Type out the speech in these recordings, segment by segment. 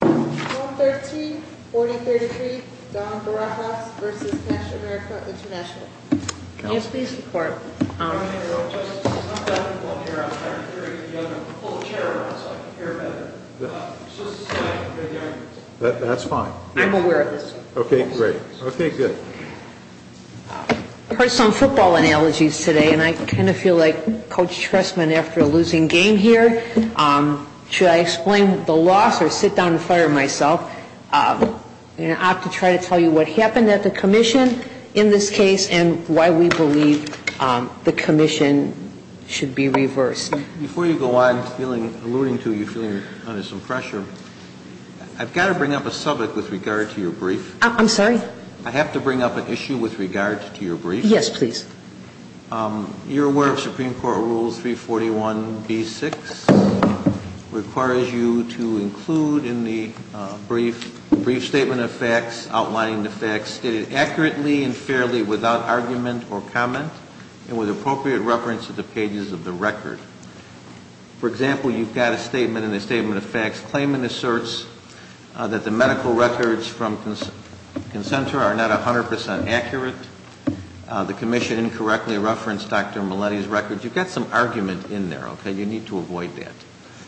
1-13-4033 Don Barajas v. Cash America International Can you please report? That's fine. I'm aware of this. Okay, great. Okay, good. I heard some football analogies today and I kind of feel like Coach Trestman after a losing game here. Should I explain the loss or sit down and fire myself? I'm going to have to try to tell you what happened at the commission in this case and why we believe the commission should be reversed. Before you go on, I'm feeling, alluding to you feeling under some pressure, I've got to bring up a subject with regard to your brief. I'm sorry? I have to bring up an issue with regard to your brief. Yes, please. You're aware of Supreme Court Rules 341B-6 requires you to include in the brief statement of facts outlining the facts stated accurately and fairly without argument or comment and with appropriate reference to the pages of the record. For example, you've got a statement in the statement of facts claiming the certs that the medical records from consent are not 100% accurate. The commission incorrectly referenced Dr. Mileti's records. You've got some argument in there, okay? You need to avoid that.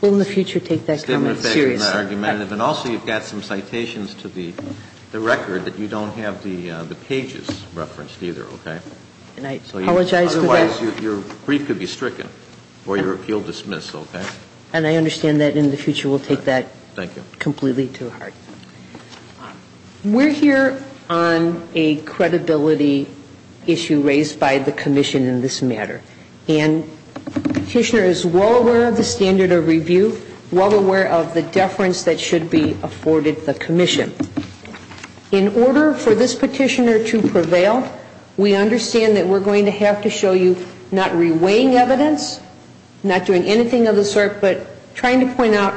We'll in the future take that comment seriously. And also you've got some citations to the record that you don't have the pages referenced either, okay? And I apologize for that. Otherwise your brief could be stricken or your appeal dismissed, okay? And I understand that in the future we'll take that completely to heart. We're here on a credibility issue raised by the commission in this matter. And the petitioner is well aware of the standard of review, well aware of the deference that should be afforded the commission. In order for this petitioner to prevail, we understand that we're going to have to show you not reweighing evidence, not doing anything of the sort, but trying to point out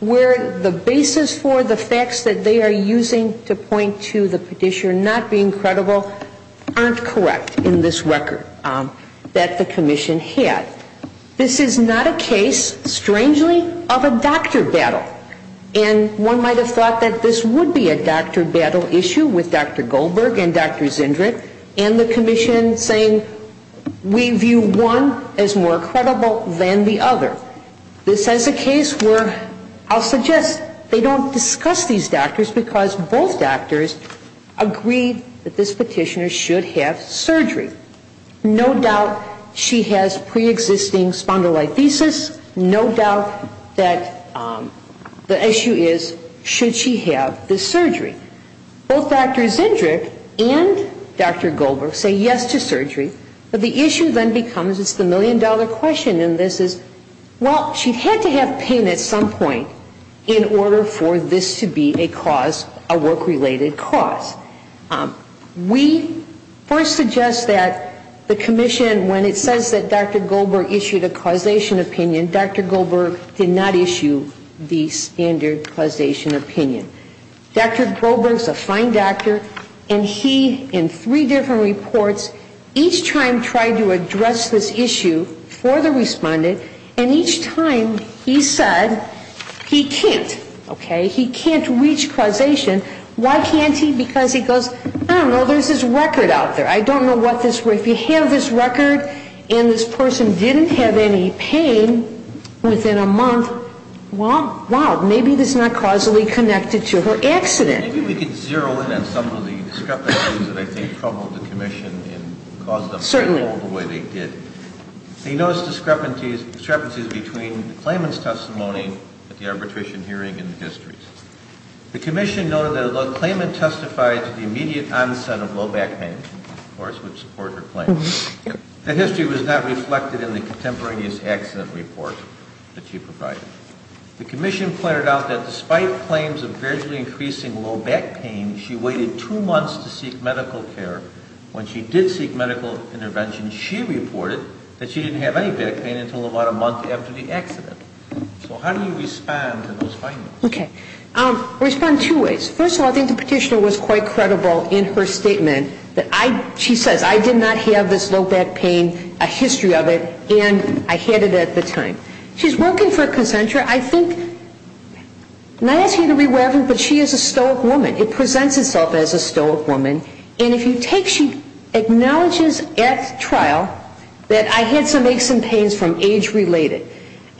where the basis for the facts that they are using to point to the petitioner not being credible aren't correct in this record that the commission had. This is not a case, strangely, of a doctor battle. And one might have thought that this would be a doctor battle issue with Dr. Goldberg and Dr. Zendrick and the commission saying we view one as more credible than the other. This is a case where I'll suggest they don't discuss these doctors because both doctors agreed that this petitioner should have surgery. No doubt she has preexisting spondylolisthesis. No doubt that the issue is should she have the surgery. Both Dr. Zendrick and Dr. Goldberg say yes to surgery, but the issue then becomes it's the million-dollar question in this is, well, she had to have pain at some point in order for this to be a cause, a work-related cause. We first suggest that the commission, when it says that Dr. Goldberg issued a causation opinion, Dr. Goldberg did not issue the standard causation opinion. Dr. Goldberg's a fine doctor, and he, in three different reports, each time tried to address this issue for the respondent, and each time he said he can't. Okay? He can't reach causation. Why can't he? Because he goes, I don't know, there's this record out there. I don't know what this, if you have this record and this person didn't have any pain within a month, well, wow, maybe this is not causally connected to her accident. Maybe we could zero in on some of the discrepancies that I think troubled the commission and caused them to get old the way they did. Certainly. They noticed discrepancies between the claimant's testimony at the arbitration hearing and the history's. The commission noted that although the claimant testified to the immediate onset of low back pain, of course, which supports her claim, the history was not reflected in the contemporaneous accident report that she provided. The commission pointed out that despite claims of gradually increasing low back pain, she waited two months to seek medical care. When she did seek medical intervention, she reported that she didn't have any back pain until about a month after the accident. So how do you respond to those findings? Okay. I respond two ways. First of all, I think the petitioner was quite credible in her statement that I, she says, I did not have this low back pain, a history of it, and I had it at the time. She's working for Concentra. I think, and I ask you to read whatever, but she is a stoic woman. It presents itself as a stoic woman. And if you take, she acknowledges at trial that I had some aches and pains from age-related.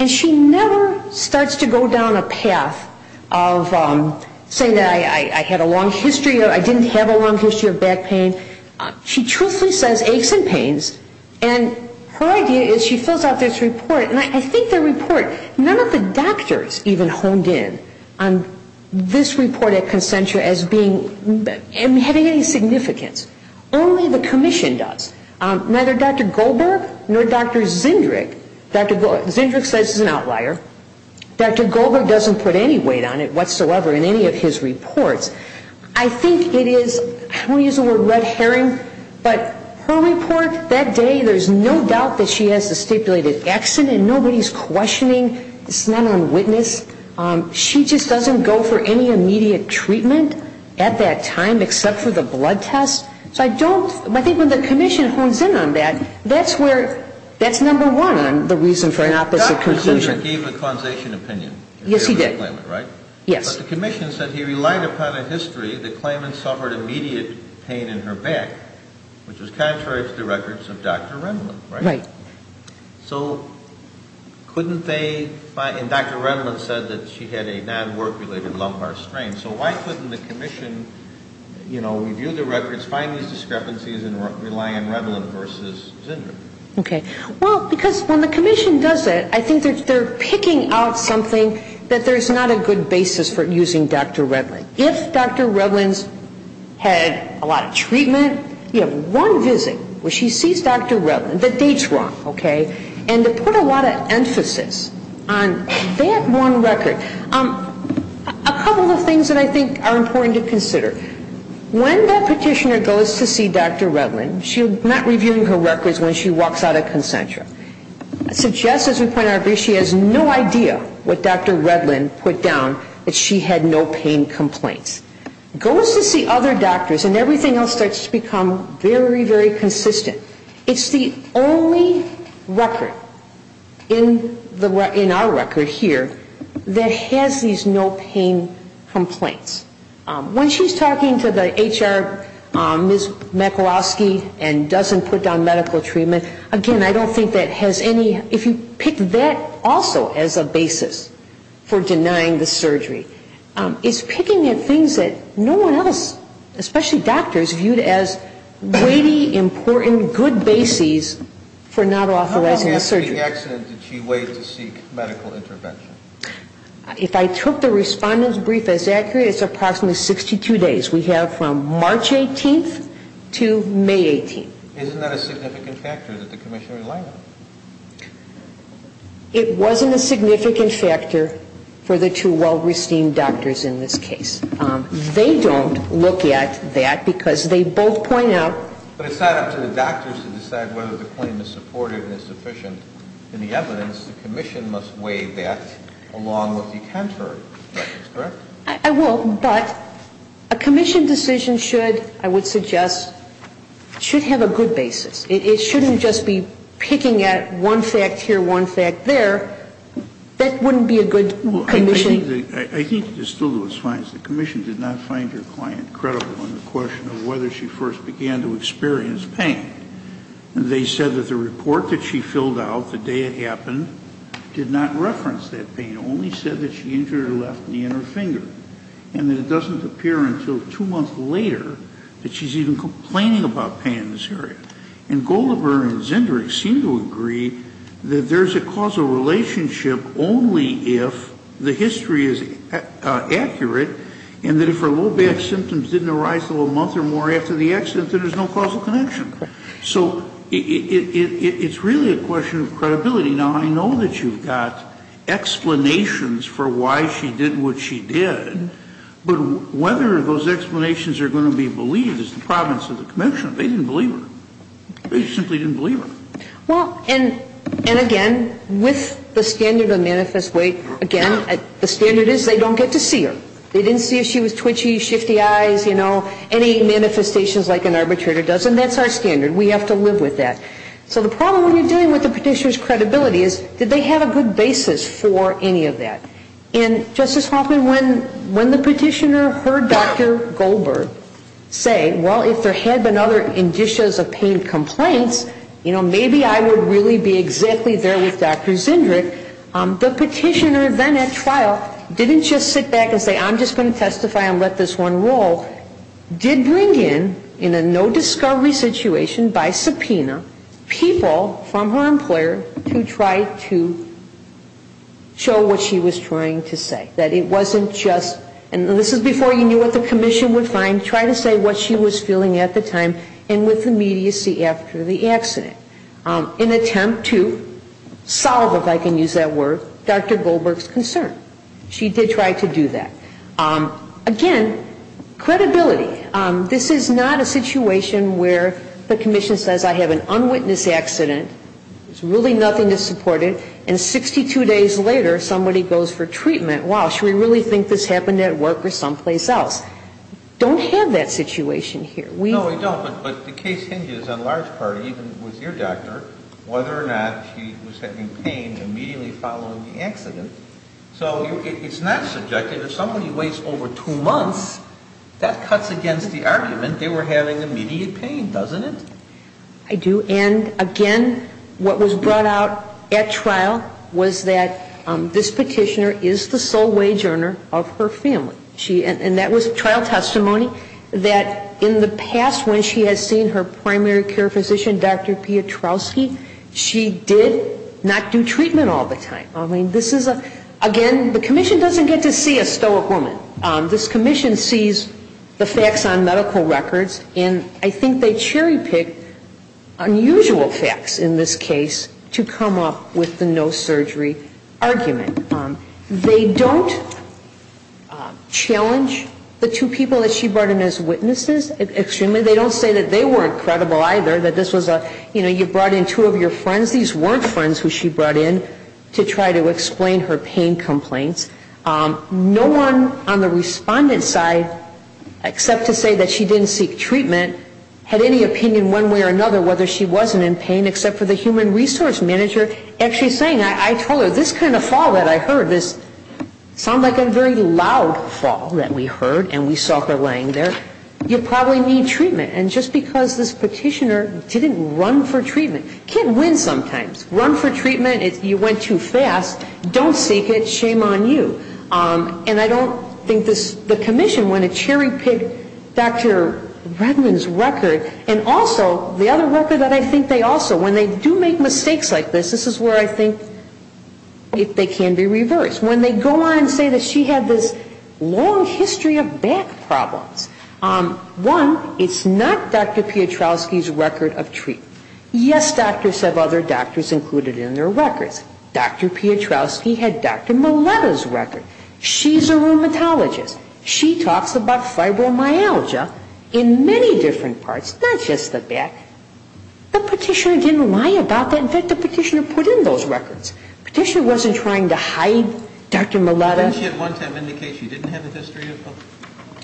And she never starts to go down a path of saying that I had a long history or I didn't have a long history of back pain. She truthfully says aches and pains, and her idea is she fills out this report. And I think the report, none of the doctors even honed in on this report at Concentra as being, and having any significance. Only the commission does. Neither Dr. Goldberg nor Dr. Zindrig. Dr. Zindrig says he's an outlier. Dr. Goldberg doesn't put any weight on it whatsoever in any of his reports. I think it is, I don't want to use the word red herring, but her report that day, there's no doubt that she has a stipulated accident. Nobody's questioning. It's not on witness. She just doesn't go for any immediate treatment at that time except for the blood test. So I don't, I think when the commission hones in on that, that's where, that's number one, the reason for an opposite conclusion. And Dr. Zindrig gave a causation opinion. Yes, he did. Right? Yes. But the commission said he relied upon a history that claimants suffered immediate pain in her back, which was contrary to the records of Dr. Remlin, right? Right. So couldn't they, and Dr. Remlin said that she had a non-work-related lumbar strain. So why couldn't the commission, you know, review the records, find these discrepancies, and rely on Remlin versus Zindrig? Okay. Well, because when the commission does it, I think they're picking out something that there's not a good basis for using Dr. Remlin. If Dr. Remlin's had a lot of treatment, you have one visit where she sees Dr. Remlin, the date's wrong, okay? And to put a lot of emphasis on that one record, a couple of things that I think are important to consider. When that petitioner goes to see Dr. Remlin, she's not reviewing her records when she walks out of Concentra. Suggests, as we pointed out earlier, she has no idea what Dr. Remlin put down, that she had no pain complaints. Goes to see other doctors, and everything else starts to become very, very consistent. It's the only record in our record here that has these no pain complaints. When she's talking to the HR, Ms. McCloskey, and doesn't put down medical treatment, again, I don't think that has any If you pick that also as a basis for denying the surgery, it's picking at things that no one else, especially doctors, viewed as weighty, important, good bases for not authorizing the surgery. How often after the accident did she wait to seek medical intervention? If I took the respondent's brief as accurate, it's approximately 62 days. We have from March 18th to May 18th. Isn't that a significant factor that the commission relied on? It wasn't a significant factor for the two well-resteemed doctors in this case. They don't look at that because they both point out But it's not up to the doctors to decide whether the claim is supportive and is sufficient. In the evidence, the commission must weigh that along with the counter evidence, correct? I will. But a commission decision should, I would suggest, should have a good basis. It shouldn't just be picking at one fact here, one fact there. That wouldn't be a good commission I think it is still Louis Fines. The commission did not find her client credible in the question of whether she first began to experience pain. They said that the report that she filled out the day it happened did not reference that pain. It only said that she injured her left knee and her finger. And that it doesn't appear until two months later that she's even complaining about pain in this area. And Goldenberg and Zindrig seem to agree that there's a causal relationship only if the history is accurate. And that if her low back symptoms didn't arise until a month or more after the accident, then there's no causal connection. So it's really a question of credibility. Now, I know that you've got explanations for why she did what she did. But whether those explanations are going to be believed is the province of the commission. They didn't believe her. They simply didn't believe her. Well, and again, with the standard of manifest weight, again, the standard is they don't get to see her. They didn't see if she was twitchy, shifty eyes, you know, any manifestations like an arbitrator does. And that's our standard. We have to live with that. So the problem when you're dealing with the petitioner's credibility is did they have a good basis for any of that. And, Justice Hoffman, when the petitioner heard Dr. Goldberg say, well, if there had been other indicias of pain complaints, you know, maybe I would really be exactly there with Dr. Zindrig. The petitioner then at trial didn't just sit back and say, I'm just going to testify and let this one roll. Did bring in, in a no discovery situation by subpoena, people from her employer to try to show what she was trying to say. That it wasn't just, and this is before you knew what the commission would find, try to say what she was feeling at the time and with immediacy after the accident. In attempt to solve, if I can use that word, Dr. Goldberg's concern. She did try to do that. Again, credibility. This is not a situation where the commission says I have an unwitnessed accident, there's really nothing to support it, and 62 days later somebody goes for treatment. Wow, should we really think this happened at work or someplace else? Don't have that situation here. No, we don't, but the case hinges on large part, even with your doctor, whether or not she was having pain immediately following the accident. So it's not subjective. If somebody waits over two months, that cuts against the argument they were having immediate pain, doesn't it? I do. And again, what was brought out at trial was that this petitioner is the sole wage earner of her family. And that was trial testimony that in the past when she has seen her primary care physician, Dr. Piotrowski, she did not do treatment all the time. I mean, this is a, again, the commission doesn't get to see a stoic woman. This commission sees the facts on medical records, and I think they cherry pick unusual facts in this case to come up with the no surgery argument. They don't challenge the two people that she brought in as witnesses extremely. They don't say that they weren't credible either, that this was a, you know, you brought in two of your friends. These weren't friends who she brought in to try to explain her pain complaints. No one on the respondent side, except to say that she didn't seek treatment, had any opinion one way or another whether she wasn't in pain, except for the human resource manager actually saying, I told her, this kind of fall that I heard, this sounded like a very loud fall that we heard, and we saw her laying there, you probably need treatment. And just because this petitioner didn't run for treatment, can't win sometimes. Run for treatment, you went too fast, don't seek it, shame on you. And I don't think this, the commission went and cherry picked Dr. Redman's record, and also the other record that I think they also, when they do make mistakes like this, this is where I think they can be reversed. When they go on and say that she had this long history of back problems, one, it's not Dr. Piotrowski's record of treatment. Yes, doctors have other doctors included in their records. Dr. Piotrowski had Dr. Mileta's record. She's a rheumatologist. She talks about fibromyalgia in many different parts, not just the back. The petitioner didn't lie about that. In fact, the petitioner put in those records. The petitioner wasn't trying to hide Dr. Mileta. Didn't she at one time indicate she didn't have a history of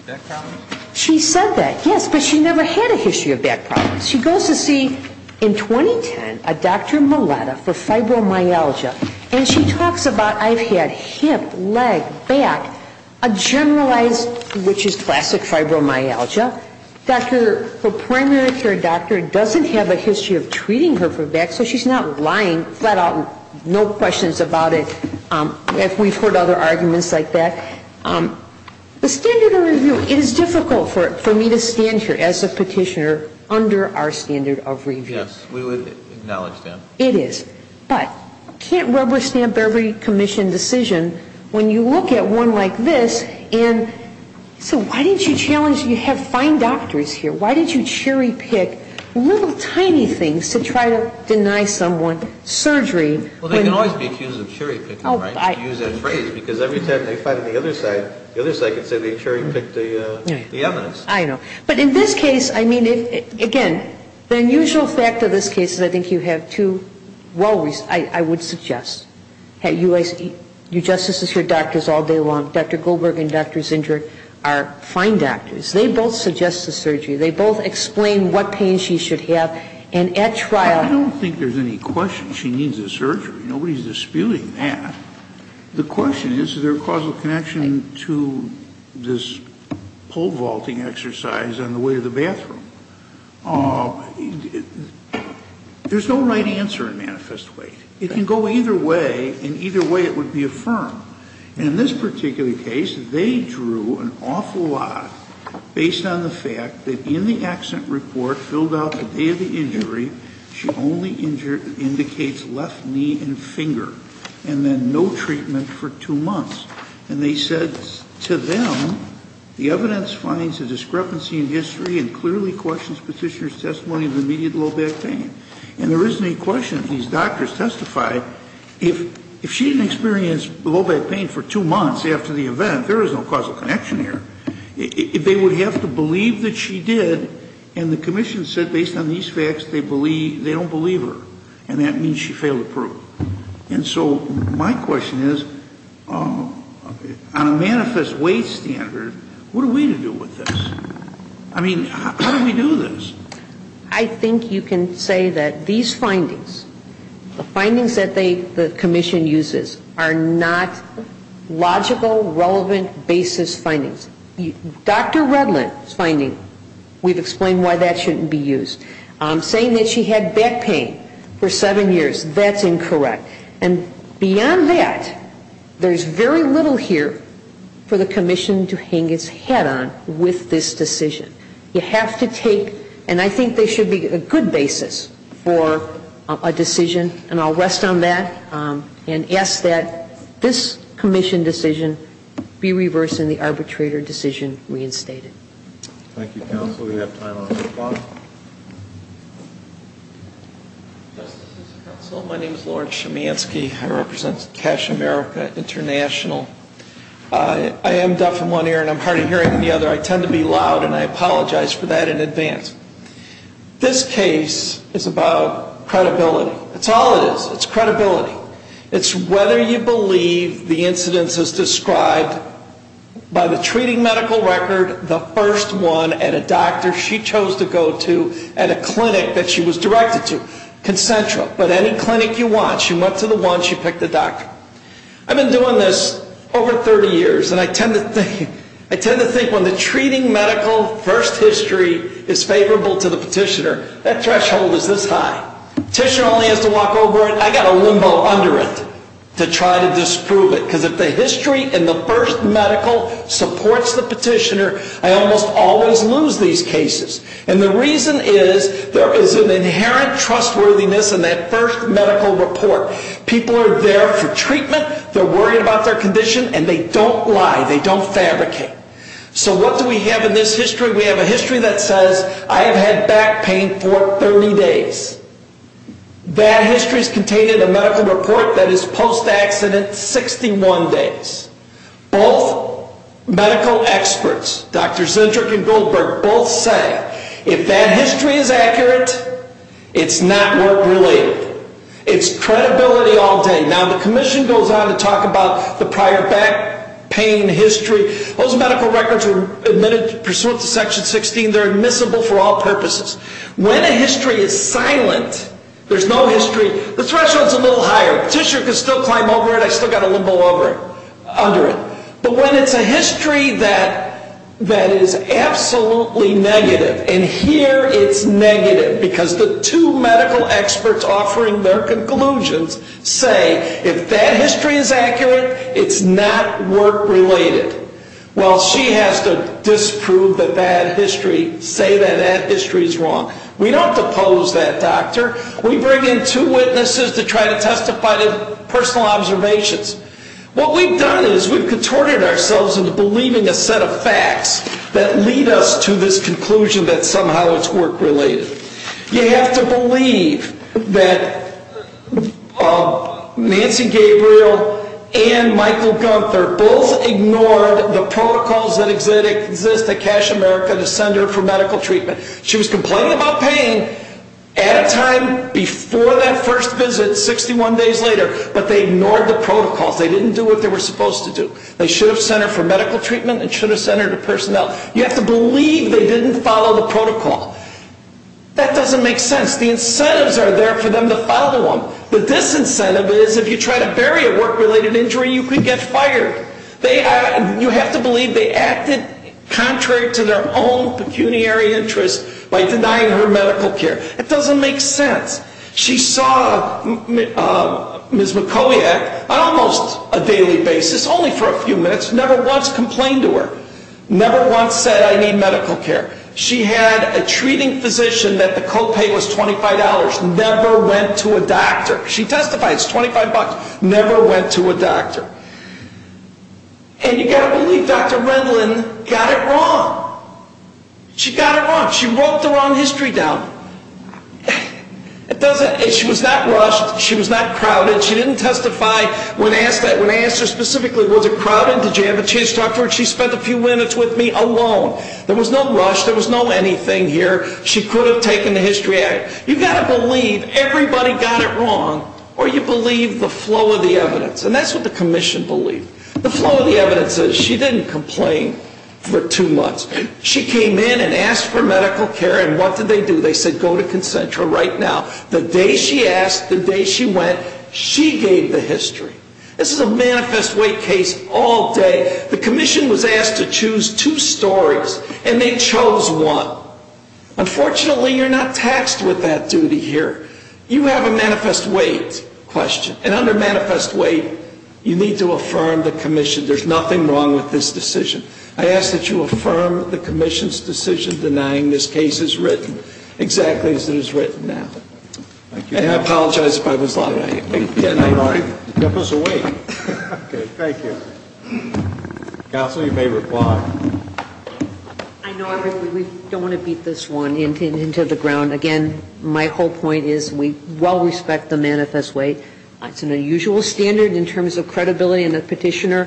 back problems? She said that, yes, but she never had a history of back problems. She goes to see, in 2010, a Dr. Mileta for fibromyalgia, and she talks about, I've had hip, leg, back, a generalized, which is classic fibromyalgia. Her primary care doctor doesn't have a history of treating her for back, so she's not lying flat out, no questions about it, if we've heard other arguments like that. The standard of review, it is difficult for me to stand here as a petitioner under our standard of review. Yes, we would acknowledge that. It is. But can't rubber stamp every commission decision when you look at one like this, and so why didn't you challenge, you have fine doctors here, why didn't you cherry pick little tiny things to try to deny someone surgery? Well, they can always be accused of cherry picking, right, to use that phrase, because every time they fight on the other side, the other side can say they cherry picked the evidence. I know. But in this case, I mean, again, the unusual fact of this case is I think you have two well-reasoned, I would suggest, you justices hear doctors all day long. Dr. Goldberg and Dr. Zinder are fine doctors. They both suggest a surgery. They both explain what pain she should have. And at trial ---- I don't think there's any question she needs a surgery. Nobody's disputing that. The question is, is there a causal connection to this pole vaulting exercise on the way to the bathroom? There's no right answer in manifest way. It can go either way, and either way it would be affirmed. In this particular case, they drew an awful lot based on the fact that in the accident report filled out the day of the injury, she only indicates left knee and finger, and then no treatment for two months. And they said to them, the evidence finds a discrepancy in history and clearly questions Petitioner's testimony of immediate low back pain. And there isn't any question if these doctors testified, if she didn't experience low back pain for two months after the event, there is no causal connection here. They would have to believe that she did, and the commission said based on these facts they don't believe her. And that means she failed to prove. And so my question is, on a manifest way standard, what are we to do with this? I mean, how do we do this? I think you can say that these findings, the findings that the commission uses, are not logical, relevant basis findings. Dr. Redlin's finding, we've explained why that shouldn't be used. Saying that she had back pain for seven years, that's incorrect. And beyond that, there's very little here for the commission to hang its head on with this decision. You have to take, and I think there should be a good basis for a decision, and I'll rest on that, and ask that this commission decision be reversed and the arbitrator decision reinstated. Thank you, counsel. We have time on the clock. Justices and counsel, my name is Lawrence Chemanski. I represent Cash America International. I am deaf in one ear and I'm hard of hearing in the other. I tend to be loud, and I apologize for that in advance. This case is about credibility. That's all it is. It's credibility. It's whether you believe the incidents as described by the treating medical record, the first one at a doctor she chose to go to at a clinic that she was directed to, concentra. But any clinic you want, she went to the one, she picked the doctor. I've been doing this over 30 years, and I tend to think when the treating medical first history is favorable to the petitioner, that threshold is this high. Petitioner only has to walk over it. I've got a limbo under it to try to disprove it, because if the history in the first medical supports the petitioner, I almost always lose these cases. And the reason is there is an inherent trustworthiness in that first medical report. People are there for treatment. They're worried about their condition, and they don't lie. They don't fabricate. So what do we have in this history? We have a history that says, I've had back pain for 30 days. That history is contained in a medical report that is post-accident 61 days. Both medical experts, Dr. Zendrick and Goldberg, both say, if that history is accurate, it's not work-related. It's credibility all day. Now, the commission goes on to talk about the prior back pain history. Those medical records were pursuant to Section 16. They're admissible for all purposes. When a history is silent, there's no history. The threshold's a little higher. Petitioner can still climb over it. I've still got a limbo under it. But when it's a history that is absolutely negative, and here it's negative, because the two medical experts offering their conclusions say, if that history is accurate, it's not work-related. Well, she has to disprove that that history, say that that history is wrong. We don't depose that doctor. We bring in two witnesses to try to testify to personal observations. What we've done is we've contorted ourselves into believing a set of facts that lead us to this conclusion that somehow it's work-related. You have to believe that Nancy Gabriel and Michael Gunther both ignored the protocols that exist at Cash America to send her for medical treatment. She was complaining about pain at a time before that first visit, 61 days later, but they ignored the protocols. They didn't do what they were supposed to do. They should have sent her for medical treatment and should have sent her to personnel. You have to believe they didn't follow the protocol. That doesn't make sense. The incentives are there for them to follow them. The disincentive is if you try to bury a work-related injury, you could get fired. You have to believe they acted contrary to their own pecuniary interests by denying her medical care. It doesn't make sense. She saw Ms. McCoyak on almost a daily basis, only for a few minutes, never once complained to her, never once said, I need medical care. She had a treating physician that the copay was $25, never went to a doctor. She testified, it's $25, never went to a doctor. And you've got to believe Dr. Rendlin got it wrong. She got it wrong. She wrote the wrong history down. She was not rushed. She was not crowded. She didn't testify. When I asked her specifically, was it crowded, did you have a chance to talk to her, she spent a few minutes with me alone. There was no rush. There was no anything here. She could have taken the history out. You've got to believe everybody got it wrong, or you believe the flow of the evidence. And that's what the commission believed. The flow of the evidence is she didn't complain for two months. She came in and asked for medical care, and what did they do? They said, go to Concentra right now. The day she asked, the day she went, she gave the history. This is a manifest weight case all day. The commission was asked to choose two stories, and they chose one. Unfortunately, you're not taxed with that duty here. You have a manifest weight question, and under manifest weight, you need to affirm the commission. There's nothing wrong with this decision. I ask that you affirm the commission's decision denying this case as written, exactly as it is written now. And I apologize if I was loud. Can I? All right. Memphis will wait. Okay, thank you. Counsel, you may reply. I know, I really don't want to beat this one into the ground. Again, my whole point is we well respect the manifest weight. It's an unusual standard in terms of credibility in a petitioner.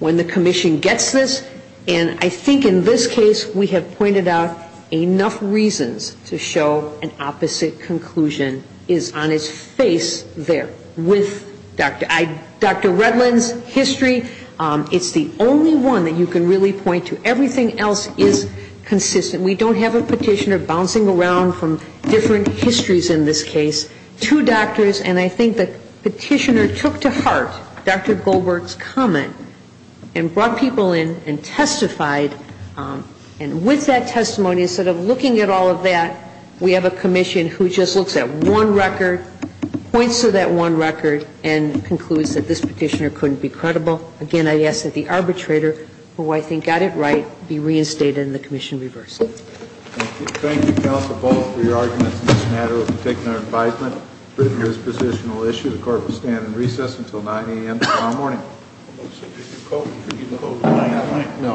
When the commission gets this, and I think in this case we have pointed out enough reasons to show an opposite conclusion is on its face there. With Dr. Redlin's history, it's the only one that you can really point to. Everything else is consistent. We don't have a petitioner bouncing around from different histories in this case to doctors, and I think the petitioner took to heart Dr. Goldberg's comment and brought people in and testified. And with that testimony, instead of looking at all of that, we have a commission who just looks at one record, points to that one record, and concludes that this petitioner couldn't be credible. Again, I ask that the arbitrator, who I think got it right, be reinstated and the commission reversed. Thank you. Thank you, counsel, both for your arguments in this matter. We've taken our advisement. We've written this positional issue. The court will stand in recess until 9 a.m. tomorrow morning. Did you vote? No.